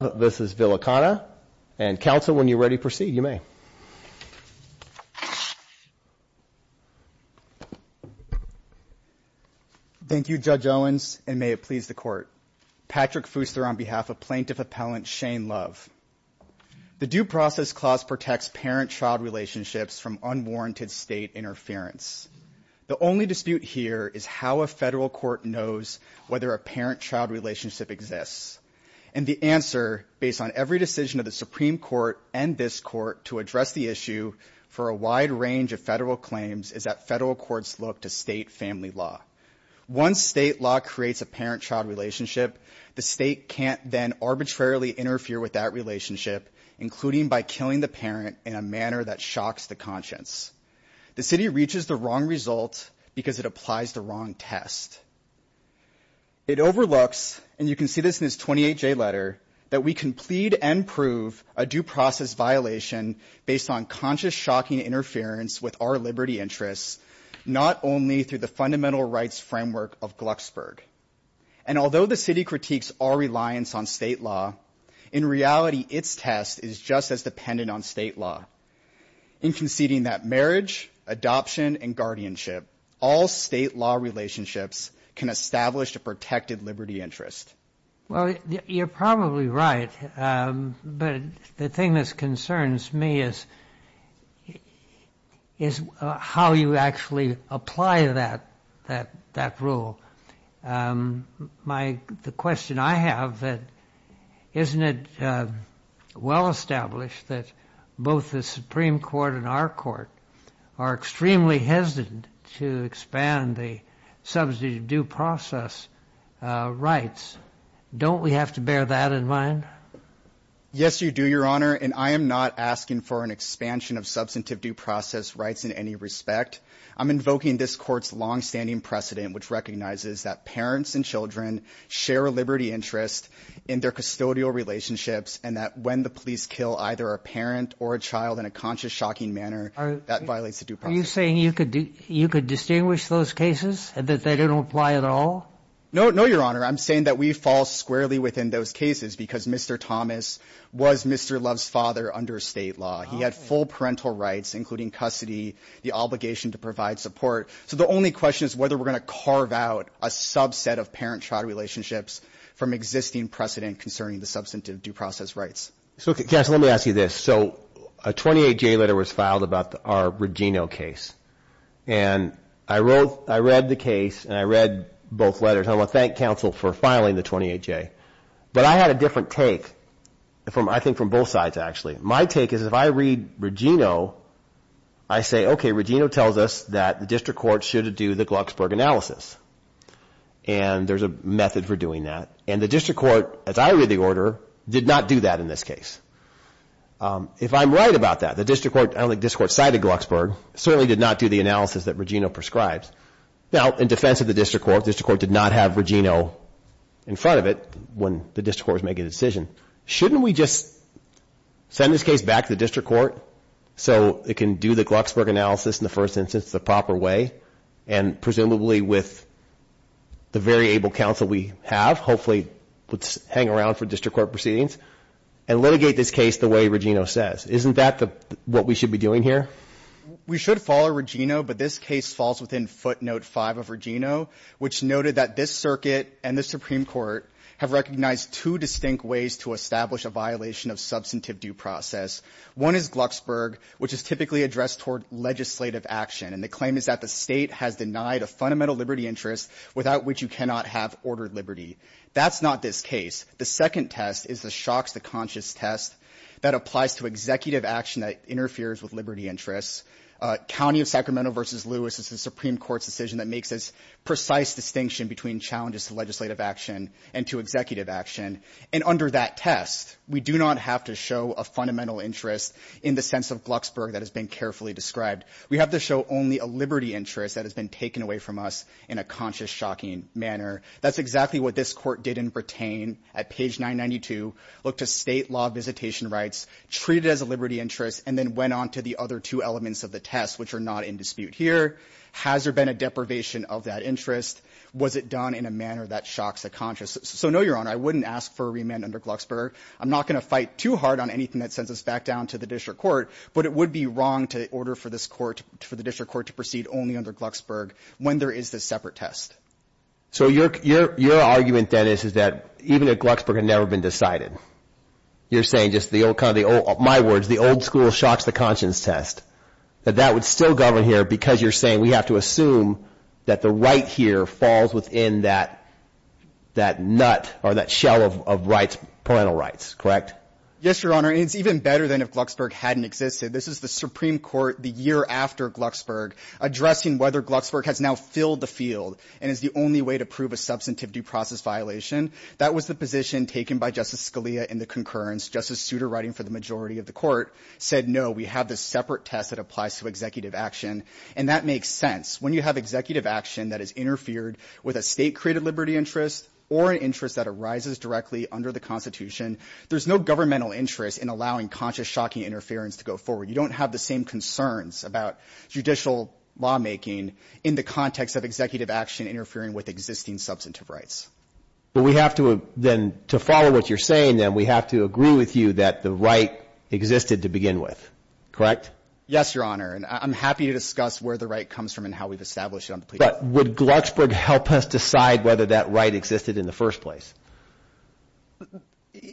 and counsel, when you're ready, proceed, you may. Thank you, Judge Owens, and may it please the Court. Patrick Fooster on behalf of Plaintiff Appellant Shane Love. The Due Process Clause protects parent-child relationships from unwarranted state interference. The only dispute here is how a federal court knows whether a parent-child relationship exists, and the answer, based on every decision of the Supreme Court and this Court to address the issue for a wide range of federal claims, is that federal courts look to state family law. Once state law creates a parent-child relationship, the state can't then arbitrarily interfere with that relationship, including by killing the parent in a manner that shocks the conscience. The city reaches the wrong result because it applies the wrong test. It overlooks, and you can see this in this 28-J letter, that we can plead and prove a due process violation based on conscious, shocking interference with our liberty interests, not only through the fundamental rights framework of Glucksburg. And although the city critiques our reliance on state law, in reality, its test is just as dependent on state law in conceding that marriage, adoption, and guardianship, all state law relationships, can establish a protected liberty interest. Well, you're probably right, but the thing that concerns me is how you actually apply that rule. The question I have, isn't it well established that both the Supreme Court and our court are extremely hesitant to expand the substantive due process rights? Don't we have to bear that in mind? Yes, you do, Your Honor, and I am not asking for an expansion of substantive due process rights in any respect. I'm invoking this court's longstanding precedent, which recognizes that parents and children share a liberty interest in their custodial relationships, and that when the police kill either a parent or a child in a conscious, shocking manner, that violates the due process. Are you saying you could distinguish those cases and that they don't apply at all? No, Your Honor, I'm saying that we fall squarely within those cases because Mr. Thomas was Mr. Love's father under state law. He had full parental rights, including custody, the obligation to provide support. So the only question is whether we're going to carve out a subset of parent-child relationships from existing precedent concerning the substantive due process rights. Counsel, let me ask you this. So a 28-J letter was filed about our Regino case, and I read the case and I read both letters. I want to thank counsel for filing the 28-J. But I had a different take, I think, from both sides, actually. My take is if I read Regino, I say, okay, Regino tells us that the district court should do the Glucksberg analysis, and there's a method for doing that. And the district court, as I read the order, did not do that in this case. If I'm right about that, the district court, I don't think the district court cited Glucksberg, certainly did not do the analysis that Regino prescribes. Now, in defense of the district court, the district court did not have Regino in front of it when the district court was making a decision. Shouldn't we just send this case back to the district court so it can do the Glucksberg analysis in the first instance the proper way, and presumably with the very able counsel we have, hopefully would hang around for district court proceedings, and litigate this case the way Regino says? Isn't that what we should be doing here? We should follow Regino, but this case falls within footnote five of Regino, which noted that this circuit and the Supreme Court have recognized two distinct ways to establish a violation of substantive due process. One is Glucksberg, which is typically addressed toward legislative action, and the claim is that the state has denied a fundamental liberty interest without which you cannot have ordered liberty. That's not this case. The second test is the shocks to conscious test that applies to executive action that interferes with liberty interests. County of Sacramento versus Lewis is the Supreme Court's decision that makes this precise distinction between challenges to legislative action and to executive action. And under that test, we do not have to show a fundamental interest in the sense of Glucksberg that has been carefully described. We have to show only a liberty interest that has been taken away from us in a conscious, shocking manner. That's exactly what this court did in pertain at page 992, look to state law visitation rights, treat it as a liberty interest, and then went on to the other two elements of the test, which are not in dispute here. Has there been a deprivation of that interest? Was it done in a manner that shocks the conscious? So no, Your Honor, I wouldn't ask for a remand under Glucksberg. I'm not going to fight too hard on anything that sends us back down to the district court, but it would be wrong to order for this court for the district court to proceed only under Glucksberg when there is this separate test. So your argument, Dennis, is that even if Glucksberg had never been decided, you're saying just the old kind of the old, my words, the old school shocks the conscience test, that that would still govern here because you're saying we have to assume that the right here falls within that, that nut or that shell of rights, parental rights, correct? Yes, Your Honor. It's even better than if Glucksberg hadn't existed. This is the Supreme Court the year after Glucksberg addressing whether Glucksberg has now filled the field. And it's the only way to prove a substantive due process violation. That was the position taken by Justice Scalia in the concurrence. Justice Souter, writing for the majority of the court, said, no, we have this separate test that applies to executive action. And that makes sense. When you have executive action that has interfered with a state-created liberty interest or an interest that arises directly under the Constitution, there's no governmental interest in allowing conscious, shocking interference to go forward. You don't have the same concerns about judicial lawmaking in the context of executive action interfering with existing substantive rights. But we have to then, to follow what you're saying, then, we have to agree with you that the right existed to begin with, correct? Yes, Your Honor. And I'm happy to discuss where the right comes from and how we've established it. But would Glucksberg help us decide whether that right existed in the first place?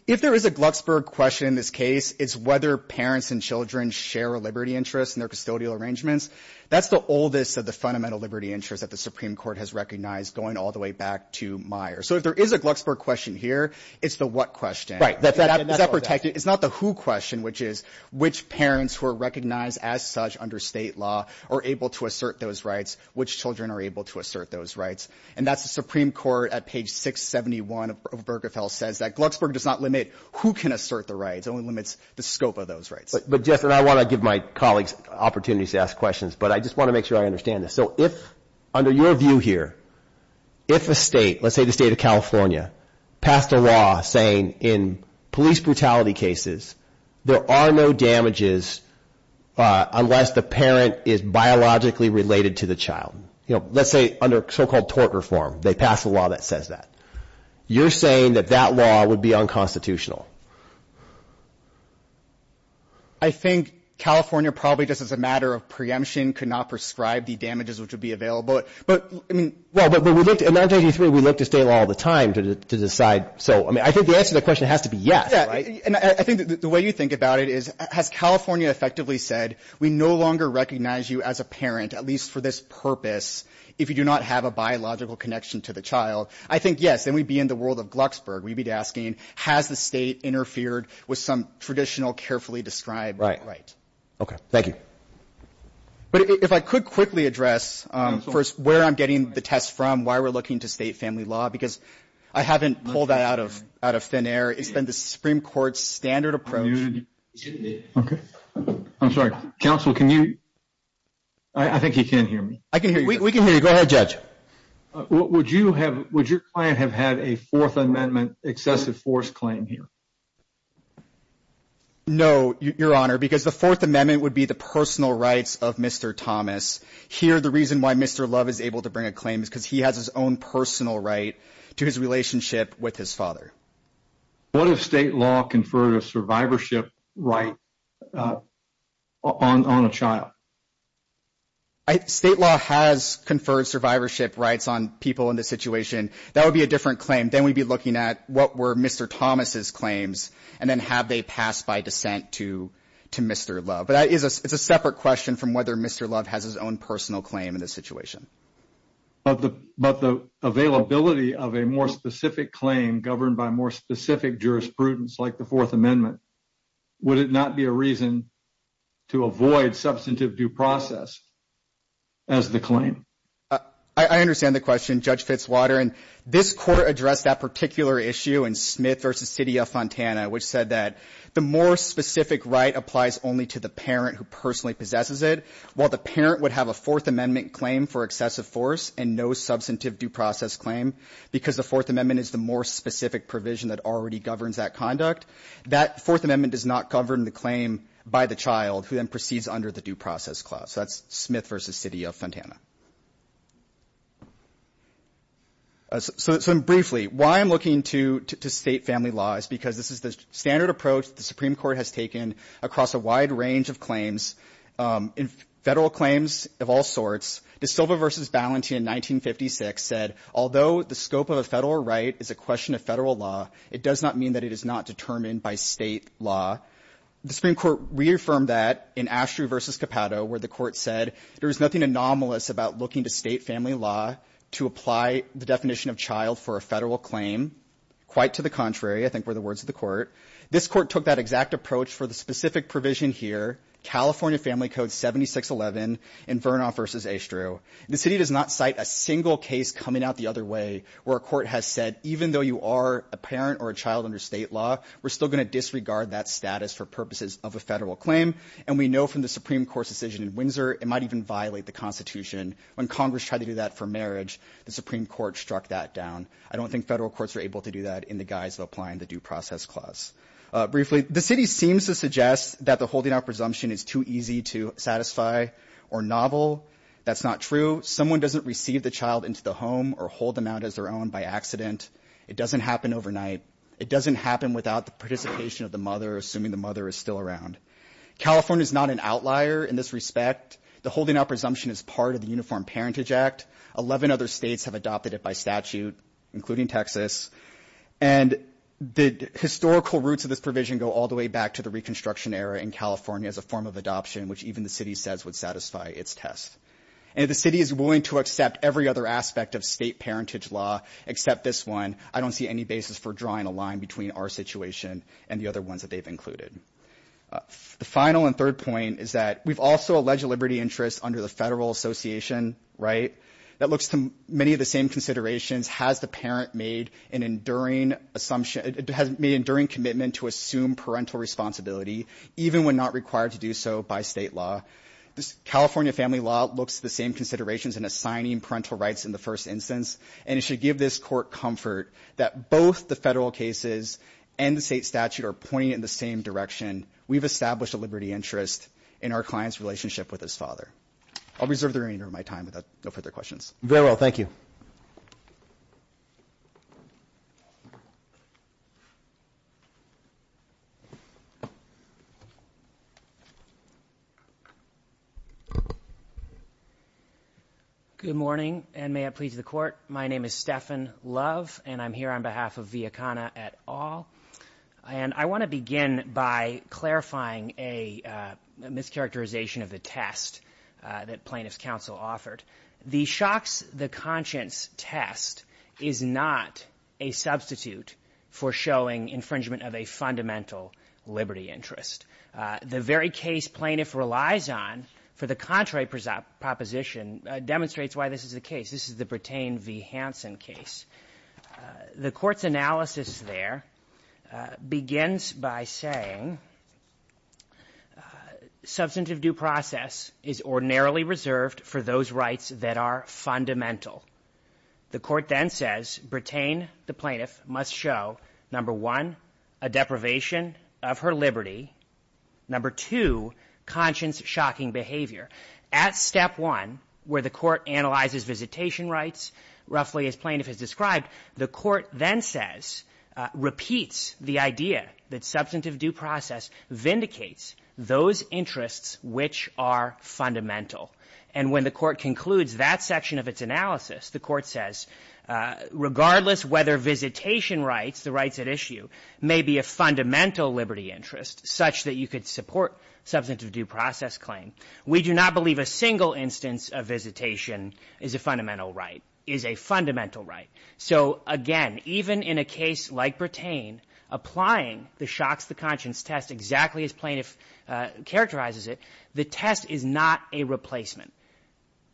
If there is a Glucksberg question in this case, it's whether parents and children share a liberty interest in their custodial arrangements. That's the oldest of the fundamental liberty interests that the Supreme Court has recognized, going all the way back to Meyer. So if there is a Glucksberg question here, it's the what question. Right. Is that protected? It's not the who question, which is, which parents who are recognized as such under state law are able to assert those rights? Which children are able to assert those rights? And that's the Supreme Court at page 671 of Berkefell says that Glucksberg does not limit who can assert the rights, it only limits the scope of those rights. But, Jeff, and I want to give my colleagues opportunities to ask questions, but I just want to make sure I understand this. So if, under your view here, if a state, let's say the state of California, passed a law saying in police brutality cases, there are no damages unless the parent is biologically related to the child. You know, let's say under so-called tort reform, they pass a law that says that. You're saying that that law would be unconstitutional. I think California probably just as a matter of preemption could not prescribe the damages which would be available. But, I mean. Well, but we looked, in 1983, we looked at state law all the time to decide. So, I mean, I think the answer to that question has to be yes, right? Yeah. And I think the way you think about it is, has California effectively said, we no longer recognize you as a parent, at least for this purpose, if you do not have a biological connection to the child. I think, yes, then we'd be in the world of Glucksburg. We'd be asking, has the state interfered with some traditional, carefully described right? Right. Okay. Thank you. But if I could quickly address first where I'm getting the test from, why we're looking to state family law, because I haven't pulled that out of thin air. It's been the Supreme Court's standard approach. Okay. I'm sorry. Counsel, can you? I think he can hear me. I can hear you. We can hear you. Go ahead, Judge. Would you have, would your client have had a Fourth Amendment excessive force claim here? No, Your Honor, because the Fourth Amendment would be the personal rights of Mr. Thomas. Here, the reason why Mr. Love is able to bring a claim is because he has his own personal right to his relationship with his father. What if state law conferred a survivorship right on a child? State law has conferred survivorship rights on people in this situation. That would be a different claim. Then we'd be looking at what were Mr. Thomas' claims, and then have they passed by dissent to Mr. Love. But it's a separate question from whether Mr. Love has his own personal claim in this situation. But the availability of a more specific claim governed by more specific jurisprudence like the Fourth Amendment, would it not be a reason to avoid substantive due process as the claim? I understand the question, Judge Fitzwater. And this court addressed that particular issue in Smith v. City of Fontana, which said that the more specific right applies only to the parent who personally possesses it. While the parent would have a Fourth Amendment claim for excessive force and no substantive due process claim because the Fourth Amendment is the more specific provision that already governs that conduct, that Fourth Amendment does not govern the claim by the child who then proceeds under the due process clause. So that's Smith v. City of Fontana. So briefly, why I'm looking to state family law is because this is the standard approach the Supreme Court has taken across a wide range of claims, in federal claims of all sorts. De Silva v. Ballantyne in 1956 said, although the scope of a federal right is a question of federal law, it does not mean that it is not determined by state law. The Supreme Court reaffirmed that in Ashdrew v. Capato, where the court said there is nothing anomalous about looking to state family law to apply the definition of child for a federal claim. Quite to the contrary, I think, were the words of the court. This court took that exact approach for the specific provision here, California Family Code 7611 in Vernoff v. Ashdrew. The city does not cite a single case coming out the other way where a court has said, even though you are a parent or a child under state law, we're still going to disregard that status for purposes of a federal claim. And we know from the Supreme Court's decision in Windsor, it might even violate the Constitution. When Congress tried to do that for marriage, the Supreme Court struck that down. I don't think federal courts are able to do that in the guise of applying the Due Process Clause. Briefly, the city seems to suggest that the holding out presumption is too easy to satisfy or novel. That's not true. Someone doesn't receive the child into the home or hold them out as their own by accident. It doesn't happen overnight. It doesn't happen without the participation of the mother, assuming the mother is still around. California is not an outlier in this respect. The holding out presumption is part of the Uniform Parentage Act. Eleven other states have adopted it by statute, including Texas. And the historical roots of this provision go all the way back to the Reconstruction Era in California as a form of adoption, which even the city says would satisfy its test. And if the city is willing to accept every other aspect of state parentage law except this one, I don't see any basis for drawing a line between our situation and the other ones that they've included. The final and third point is that we've also alleged liberty interests under the Federal Association, right? That looks to many of the same considerations. Has the parent made an enduring assumption, made an enduring commitment to assume parental responsibility, even when not required to do so by state law? California family law looks to the same considerations in assigning parental rights in the first instance. And it should give this court comfort that both the federal cases and the state statute are pointing in the same direction. We've established a liberty interest in our client's relationship with his father. I'll reserve the remainder of my time without no further questions. Very well. Thank you. Good morning, and may it please the court. My name is Stephan Love, and I'm here on behalf of Viacona et al. And I want to begin by clarifying a mischaracterization of the test that plaintiff's counsel offered. The shocks the conscience test is not a substitute for showing infringement of a fundamental liberty interest. The very case plaintiff relies on for the contrary proposition demonstrates why this is the case. This is the Bretain v. Hansen case. The court's analysis there begins by saying substantive due process is ordinarily reserved for those rights that are fundamental. The court then says Bretain, the plaintiff, must show, number one, a deprivation of her liberty, number two, conscience-shocking behavior. At step one, where the court analyzes visitation rights, roughly as plaintiff has described, the court then says, repeats the idea that substantive due process vindicates those interests which are fundamental. And when the court concludes that section of its analysis, the court says, regardless whether visitation rights, the rights at issue, may be a fundamental liberty interest such that you could support substantive due process claim, we do not believe a single instance of visitation is a fundamental right, is a fundamental right. So, again, even in a case like Bretain, applying the shocks the conscience test exactly as plaintiff characterizes it, the test is not a replacement.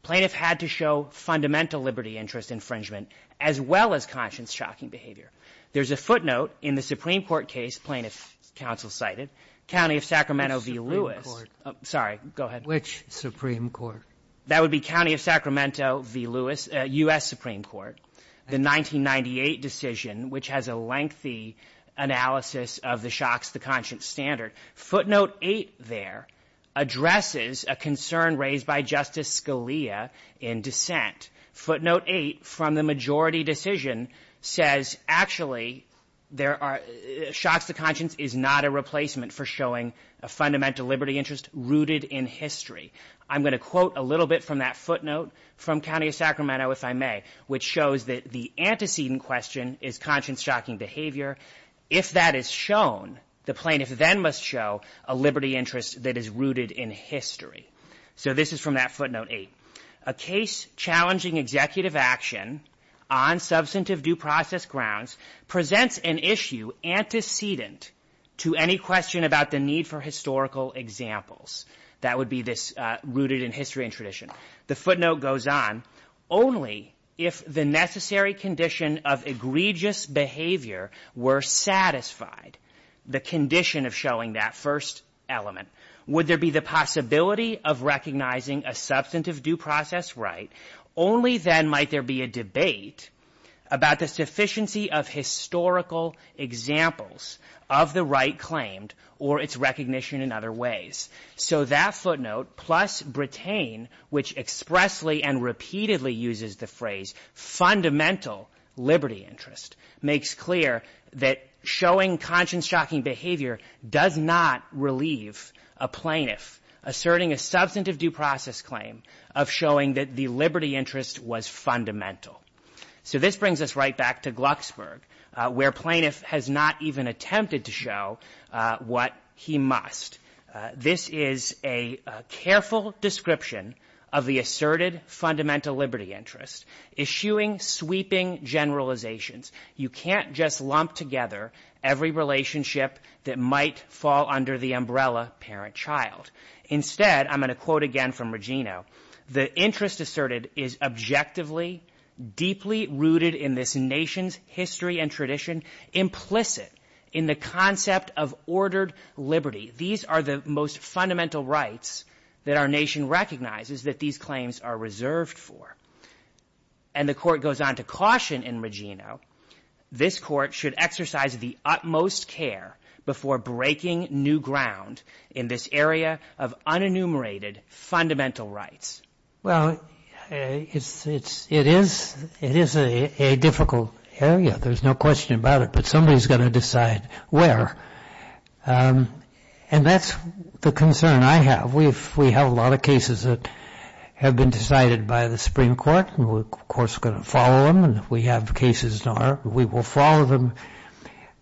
Plaintiff had to show fundamental liberty interest infringement as well as conscience-shocking behavior. There's a footnote in the Supreme Court case plaintiff's counsel cited, County of Sacramento v. Lewis. Sorry, go ahead. Which Supreme Court? That would be County of Sacramento v. Lewis, U.S. Supreme Court, the 1998 decision, which has a lengthy analysis of the shocks the conscience standard. Footnote 8 there addresses a concern raised by Justice Scalia in dissent. Footnote 8 from the majority decision says, actually, shocks the conscience is not a replacement for showing a fundamental liberty interest rooted in history. I'm going to quote a little bit from that footnote from County of Sacramento, if I may, which shows that the antecedent question is conscience-shocking behavior. If that is shown, the plaintiff then must show a liberty interest that is rooted in history. So this is from that footnote 8. A case challenging executive action on substantive due process grounds presents an issue antecedent to any question about the need for historical examples. That would be this rooted in history and tradition. The footnote goes on, only if the necessary condition of egregious behavior were satisfied, the condition of showing that first element, would there be the possibility of recognizing a substantive due process right? Only then might there be a debate about the sufficiency of historical examples of the right claimed or its recognition in other ways. So that footnote plus Bretain, which expressly and repeatedly uses the phrase fundamental liberty interest, makes clear that showing conscience-shocking behavior does not relieve a plaintiff asserting a substantive due process claim of showing that the liberty interest was fundamental. So this brings us right back to Glucksburg, where plaintiff has not even attempted to show what he must. This is a careful description of the asserted fundamental liberty interest, issuing sweeping generalizations. You can't just lump together every relationship that might fall under the umbrella parent-child. Instead, I'm going to quote again from Regino, the interest asserted is objectively deeply rooted in this nation's history and tradition, implicit in the concept of ordered liberty. These are the most fundamental rights that our nation recognizes that these claims are reserved for. And the court goes on to caution in Regino, this court should exercise the utmost care before breaking new ground in this area of unenumerated fundamental rights. Well, it is a difficult area. There's no question about it. But somebody's got to decide where. And that's the concern I have. We have a lot of cases that have been decided by the Supreme Court. And we, of course, are going to follow them. And if we have cases in our court, we will follow them.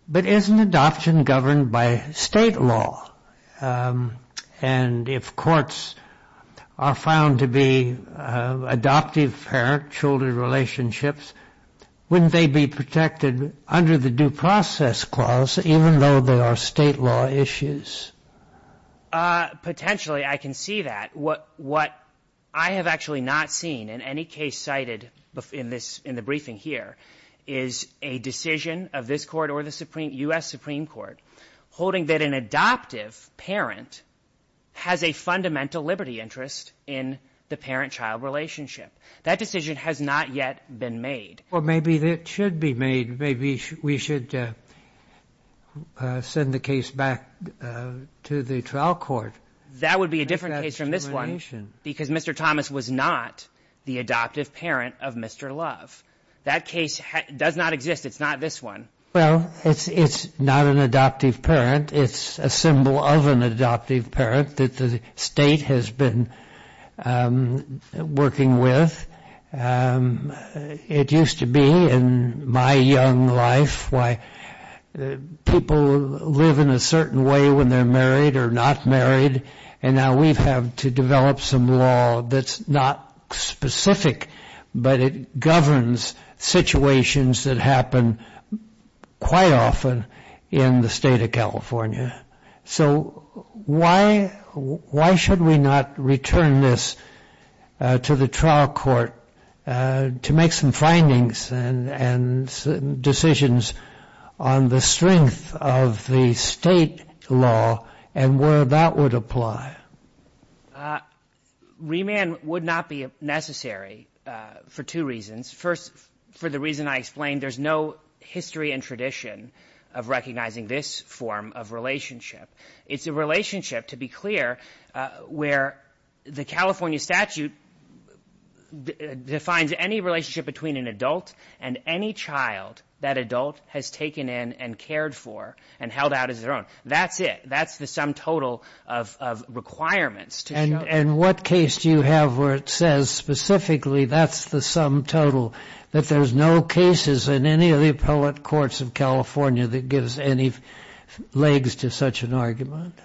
But isn't adoption governed by state law? And if courts are found to be adoptive parent-children relationships, wouldn't they be protected under the due process clause, even though there are state law issues? Potentially, I can see that. What I have actually not seen in any case cited in the briefing here is a decision of this court or the U.S. Supreme Court holding that an adoptive parent has a fundamental liberty interest in the parent-child relationship. That decision has not yet been made. Well, maybe it should be made. Maybe we should send the case back to the trial court. That would be a different case from this one because Mr. Thomas was not the adoptive parent of Mr. Love. That case does not exist. It's not this one. Well, it's not an adoptive parent. It's a symbol of an adoptive parent that the state has been working with. It used to be in my young life why people live in a certain way when they're married or not married. Now we've had to develop some law that's not specific, but it governs situations that happen quite often in the state of California. Why should we not return this to the trial court to make some findings and decisions on the strength of the state law and where that would apply? Remand would not be necessary for two reasons. First, for the reason I explained, there's no history and tradition of recognizing this form of relationship. It's a relationship, to be clear, where the California statute defines any relationship between an adult and any child that adult has taken in and cared for and held out as their own. That's it. That's the sum total of requirements. And what case do you have where it says specifically that's the sum total, that there's no cases in any of the appellate courts of California that gives any legs to such an argument?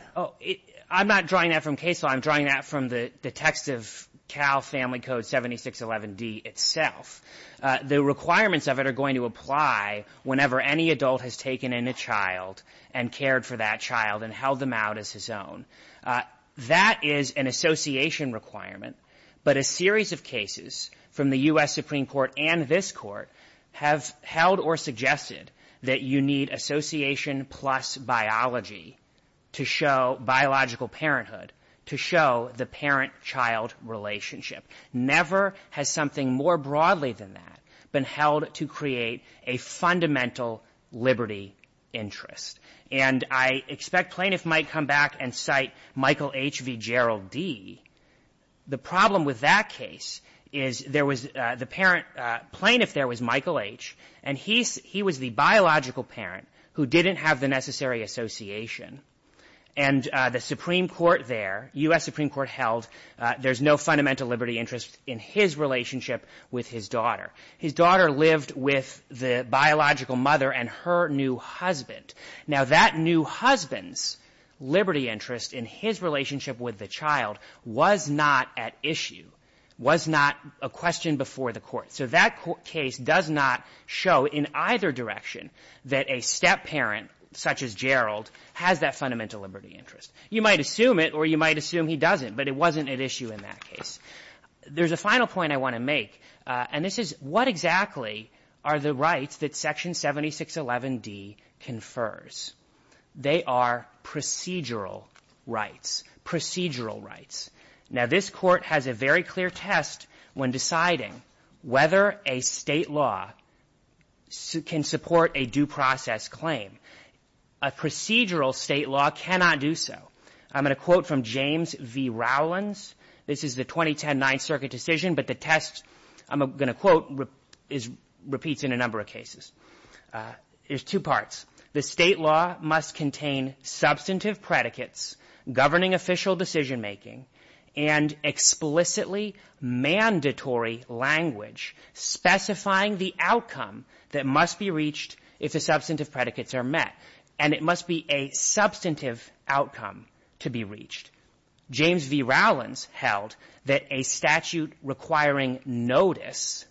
I'm not drawing that from case law. I'm drawing that from the text of Cal Family Code 7611D itself. The requirements of it are going to apply whenever any adult has taken in a child and cared for that child and held them out as his own. That is an association requirement. But a series of cases from the U.S. Supreme Court and this court have held or suggested that you need association plus biology to show biological parenthood, to show the parent-child relationship. Never has something more broadly than that been held to create a fundamental liberty interest. And I expect plaintiffs might come back and cite Michael H. v. Gerald D. The problem with that case is there was the parent plaintiff there was Michael H., and he was the biological parent who didn't have the necessary association. And the Supreme Court there, U.S. Supreme Court held there's no fundamental liberty interest in his relationship with his daughter. His daughter lived with the biological mother and her new husband. Now, that new husband's liberty interest in his relationship with the child was not at issue, was not a question before the court. So that case does not show in either direction that a step-parent such as Gerald has that fundamental liberty interest. You might assume it or you might assume he doesn't, but it wasn't at issue in that case. There's a final point I want to make, and this is what exactly are the rights that Section 7611D confers. They are procedural rights. Procedural rights. Now, this court has a very clear test when deciding whether a state law can support a due process claim. A procedural state law cannot do so. I'm going to quote from James v. Rowlands. This is the 2010 Ninth Circuit decision, but the test I'm going to quote repeats in a number of cases. There's two parts. The state law must contain substantive predicates governing official decision-making and explicitly mandatory language specifying the outcome that must be reached if the substantive predicates are met, and it must be a substantive outcome to be reached. James v. Rowlands held that a statute requiring notice,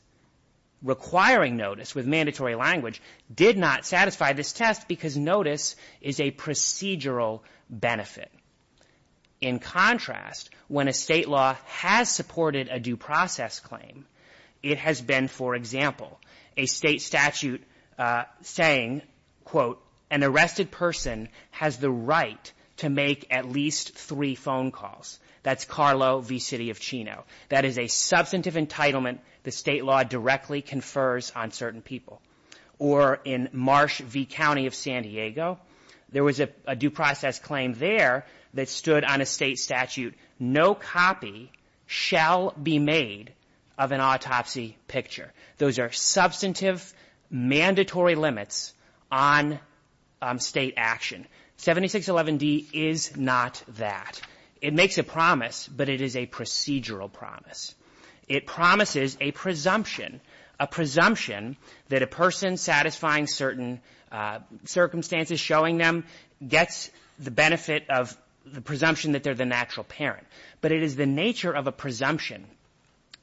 requiring notice with mandatory language, did not satisfy this test because notice is a procedural benefit. In contrast, when a state law has supported a due process claim, it has been, for example, a state statute saying, quote, an arrested person has the right to make at least three phone calls. That's Carlo v. City of Chino. That is a substantive entitlement the state law directly confers on certain people. Or in Marsh v. County of San Diego, there was a due process claim there that stood on a state statute, no copy shall be made of an autopsy picture. Those are substantive mandatory limits on state action. 7611D is not that. It makes a promise, but it is a procedural promise. It promises a presumption, a presumption that a person satisfying certain circumstances showing them gets the benefit of the presumption that they're the natural parent. But it is the nature of a presumption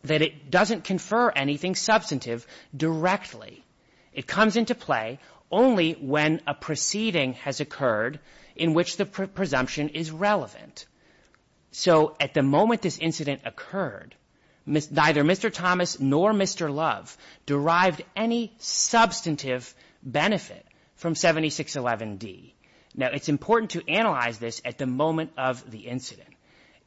that it doesn't confer anything substantive directly. It comes into play only when a proceeding has occurred in which the presumption is relevant. So at the moment this incident occurred, neither Mr. Thomas nor Mr. Love derived any substantive benefit from 7611D. Now, it's important to analyze this at the moment of the incident.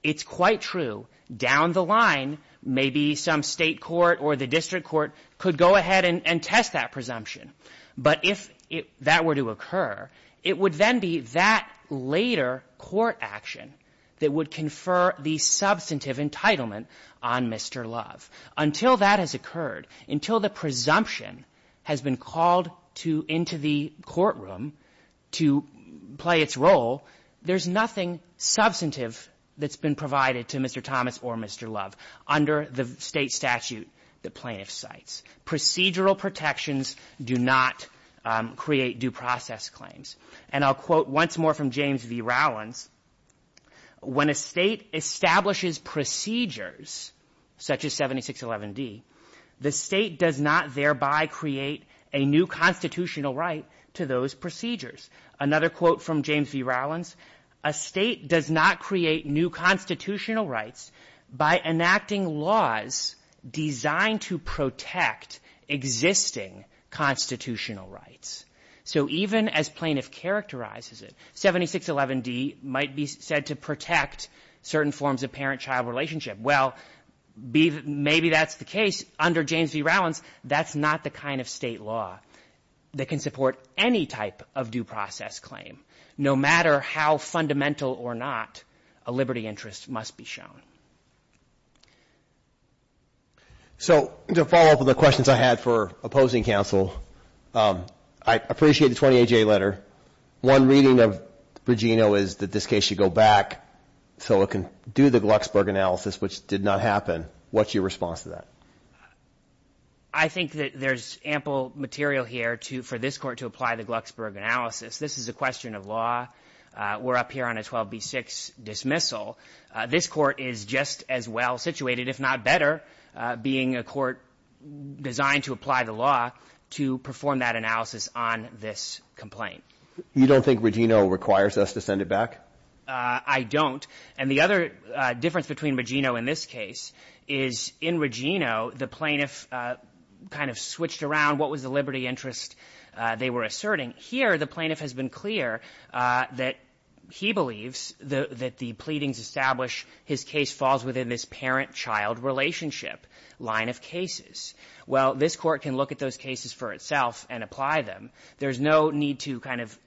It's quite true down the line maybe some state court or the district court could go ahead and test that presumption. But if that were to occur, it would then be that later court action that would confer the substantive entitlement on Mr. Love. Until that has occurred, until the presumption has been called into the courtroom to play its role, there's nothing substantive that's been provided to Mr. Thomas or Mr. Love under the state statute the plaintiff cites. Procedural protections do not create due process claims. And I'll quote once more from James V. Rowlands, when a state establishes procedures such as 7611D, the state does not thereby create a new constitutional right to those procedures. Another quote from James V. Rowlands, a state does not create new constitutional rights by enacting laws designed to protect existing constitutional rights. So even as plaintiff characterizes it, 7611D might be said to protect certain forms of parent-child relationship. Well, maybe that's the case. Under James V. Rowlands, that's not the kind of state law that can support any type of due process claim. No matter how fundamental or not, a liberty interest must be shown. So to follow up on the questions I had for opposing counsel, I appreciate the 28-J letter. One reading of Regino is that this case should go back so it can do the Glucksberg analysis, which did not happen. What's your response to that? I think that there's ample material here for this court to apply the Glucksberg analysis. This is a question of law. We're up here on a 12b-6 dismissal. This court is just as well situated, if not better, being a court designed to apply the law to perform that analysis on this complaint. You don't think Regino requires us to send it back? I don't. And the other difference between Regino in this case is in Regino, the plaintiff kind of switched around. What was the liberty interest they were asserting? Here, the plaintiff has been clear that he believes that the pleadings established his case falls within this parent-child relationship line of cases. While this court can look at those cases for itself and apply them, there's no need to kind of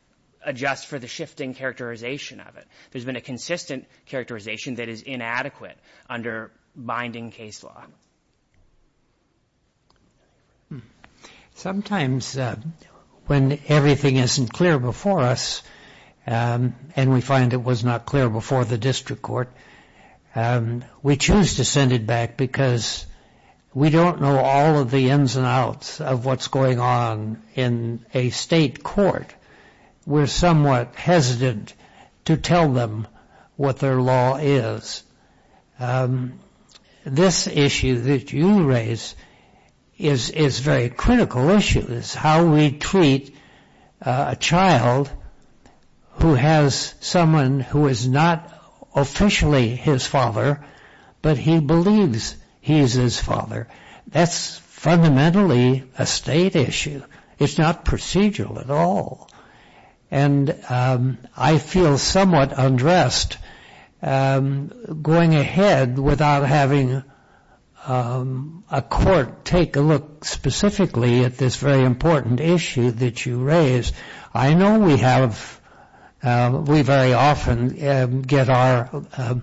adjust for the shifting characterization of it. There's been a consistent characterization that is inadequate under binding case law. Sometimes when everything isn't clear before us and we find it was not clear before the district court, we choose to send it back because we don't know all of the ins and outs of what's going on in a state court. We're somewhat hesitant to tell them what their law is. This issue that you raise is a very critical issue. It's how we treat a child who has someone who is not officially his father, but he believes he is his father. That's fundamentally a state issue. It's not procedural at all. I feel somewhat undressed going ahead without having a court take a look specifically at this very important issue that you raise. I know we very often get our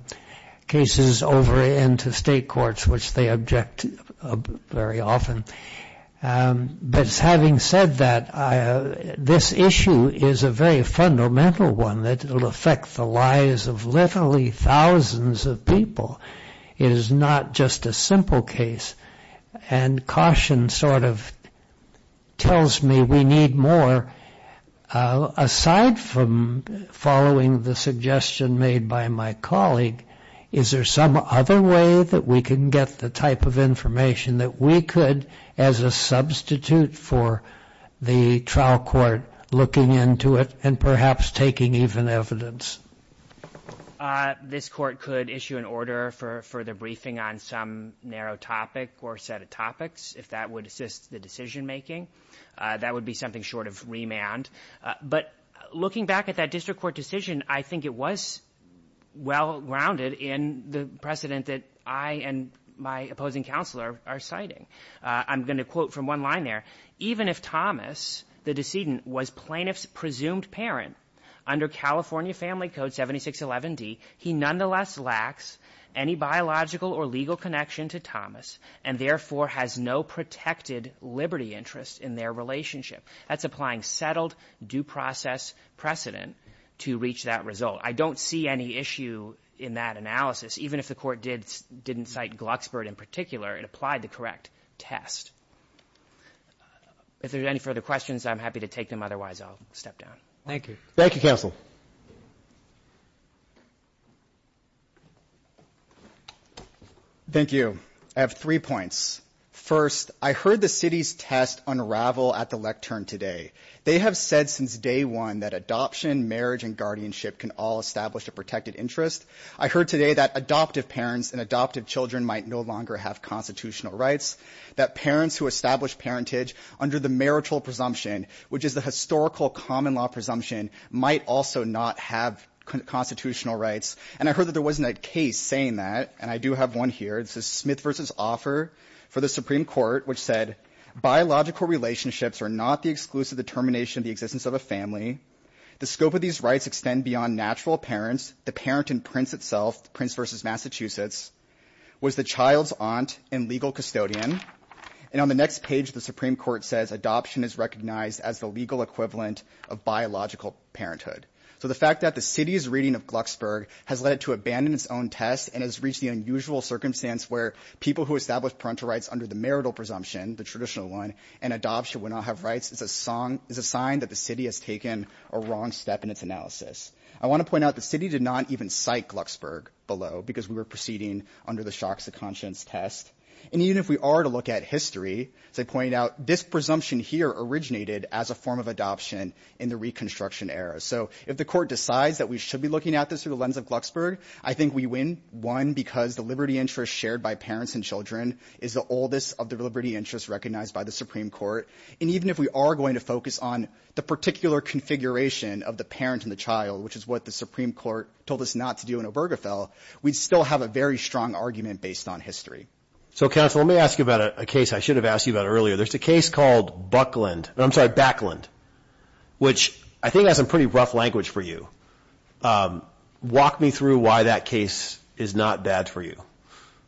cases over into state courts, which they object to very often. But having said that, this issue is a very fundamental one that will affect the lives of literally thousands of people. It is not just a simple case, and caution sort of tells me we need more. Aside from following the suggestion made by my colleague, is there some other way that we can get the type of information that we could, as a substitute for the trial court looking into it and perhaps taking even evidence? This court could issue an order for further briefing on some narrow topic or set of topics, if that would assist the decision making. That would be something short of remand. But looking back at that district court decision, I think it was well-rounded in the precedent that I and my opposing counselor are citing. I'm going to quote from one line there. Even if Thomas, the decedent, was plaintiff's presumed parent under California Family Code 7611D, he nonetheless lacks any biological or legal connection to Thomas, and therefore has no protected liberty interest in their relationship. That's applying settled due process precedent to reach that result. I don't see any issue in that analysis. Even if the court didn't cite Glucksberg in particular, it applied the correct test. If there are any further questions, I'm happy to take them. Otherwise, I'll step down. Thank you. Thank you, counsel. Thank you. I have three points. First, I heard the city's test unravel at the lectern today. They have said since day one that adoption, marriage, and guardianship can all establish a protected interest. I heard today that adoptive parents and adoptive children might no longer have constitutional rights, that parents who establish parentage under the marital presumption, which is the historical common law presumption, might also not have constitutional rights. And I heard that there wasn't a case saying that, and I do have one here. This is Smith v. Offer for the Supreme Court, which said, biological relationships are not the exclusive determination of the existence of a family. The scope of these rights extend beyond natural parents, the parent and prince itself, the prince versus Massachusetts, was the child's aunt and legal custodian. And on the next page, the Supreme Court says adoption is recognized as the legal equivalent of biological parenthood. So the fact that the city's reading of Glucksberg has led it to abandon its own test and has reached the unusual circumstance where people who establish parental rights under the marital presumption, the traditional one, and adoption would not have rights is a sign that the city has taken a wrong step in its analysis. I want to point out the city did not even cite Glucksberg below because we were proceeding under the shocks of conscience test. And even if we are to look at history, as I pointed out, this presumption here originated as a form of adoption in the Reconstruction era. So if the court decides that we should be looking at this through the lens of Glucksberg, I think we win, one, because the liberty interest shared by parents and children is the oldest of the liberty interests recognized by the Supreme Court. And even if we are going to focus on the particular configuration of the parent and the child, which is what the Supreme Court told us not to do in Obergefell, we'd still have a very strong argument based on history. So, counsel, let me ask you about a case I should have asked you about earlier. There's a case called Buckland. I'm sorry, Backland, which I think has some pretty rough language for you. Walk me through why that case is not bad for you.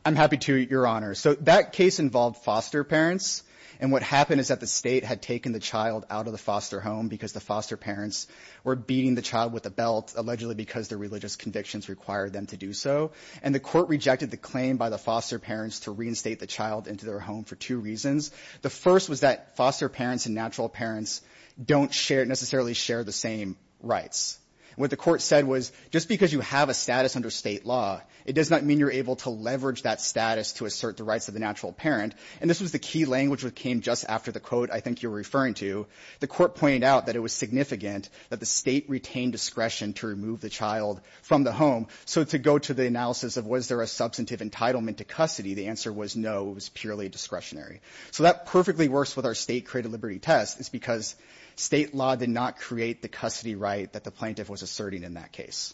I'm happy to, Your Honor. So that case involved foster parents. And what happened is that the state had taken the child out of the foster home because the foster parents were beating the child with a belt, allegedly because the religious convictions required them to do so. And the court rejected the claim by the foster parents to reinstate the child into their home for two reasons. The first was that foster parents and natural parents don't necessarily share the same rights. What the court said was, just because you have a status under state law, it does not mean you're able to leverage that status to assert the rights of the natural parent. And this was the key language that came just after the quote I think you're referring to. The court pointed out that it was significant that the state retain discretion to remove the child from the home. So to go to the analysis of was there a substantive entitlement to custody, the answer was no. It was purely discretionary. So that perfectly works with our state-created liberty test. It's because state law did not create the custody right that the plaintiff was asserting in that case.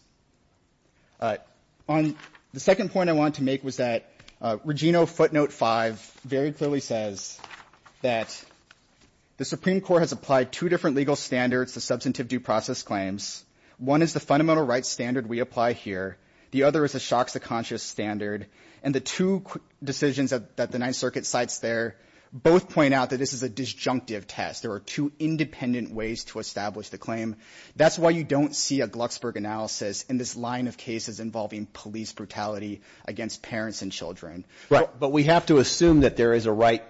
The second point I want to make was that Regino footnote 5 very clearly says that the Supreme Court has applied two different legal standards to substantive due process claims. One is the fundamental rights standard we apply here. The other is the shocks to conscious standard. And the two decisions that the Ninth Circuit cites there both point out that this is a disjunctive test. There are two independent ways to establish the claim. That's why you don't see a Glucksberg analysis in this line of cases involving police brutality against parents and children. Right. But we have to assume that there is a right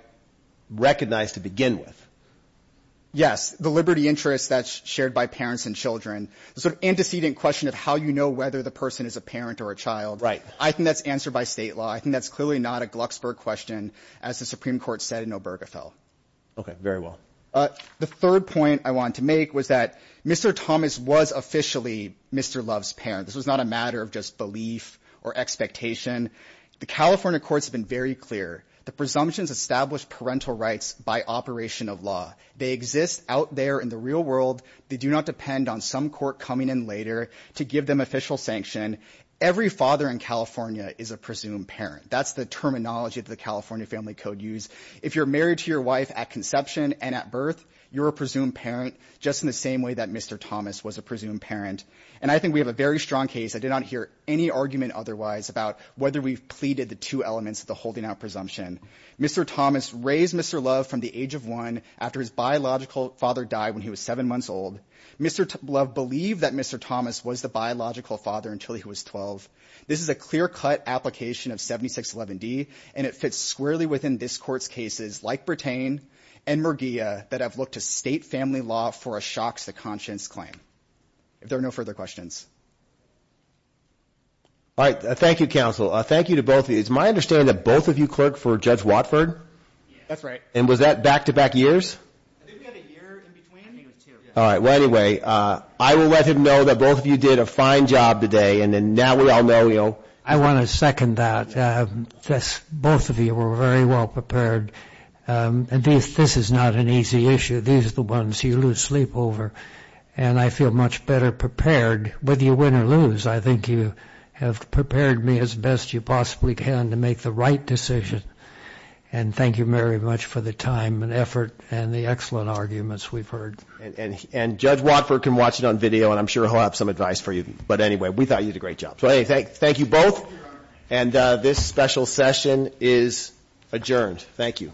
recognized to begin with. Yes. The liberty interest that's shared by parents and children. The sort of antecedent question of how you know whether the person is a parent or a child. Right. I think that's answered by state law. I think that's clearly not a Glucksberg question, as the Supreme Court said in Obergefell. Okay. Very well. The third point I want to make was that Mr. Thomas was officially Mr. Love's parent. This was not a matter of just belief or expectation. The California courts have been very clear. The presumptions establish parental rights by operation of law. They exist out there in the real world. They do not depend on some court coming in later to give them official sanction. Every father in California is a presumed parent. That's the terminology of the California Family Code used. If you're married to your wife at conception and at birth, you're a presumed parent just in the same way that Mr. Thomas was a presumed parent. And I think we have a very strong case. I did not hear any argument otherwise about whether we've pleaded the two elements of the holding out presumption. Mr. Thomas raised Mr. Love from the age of one after his biological father died when he was seven months old. Mr. Love believed that Mr. Thomas was the biological father until he was 12. This is a clear-cut application of 7611D, and it fits squarely within this court's cases like Bertain and Murguia that have looked to state family law for a shocks to conscience claim. If there are no further questions. All right. Thank you, counsel. Thank you to both of you. It's my understanding that both of you clerked for Judge Watford. That's right. And was that back-to-back years? I think we had a year in between. I think it was two. All right. I will let him know that both of you did a fine job today, and then now we all know. I want to second that. Both of you were very well prepared. This is not an easy issue. These are the ones you lose sleep over. And I feel much better prepared. Whether you win or lose, I think you have prepared me as best you possibly can to make the right decision. And thank you very much for the time and effort and the excellent arguments we've heard. And Judge Watford can watch it on video, and I'm sure he'll have some advice for you. But, anyway, we thought you did a great job. So, anyway, thank you both. And this special session is adjourned. Thank you. All right. This part of the session is adjourned. She's going to bring her walker around. All right.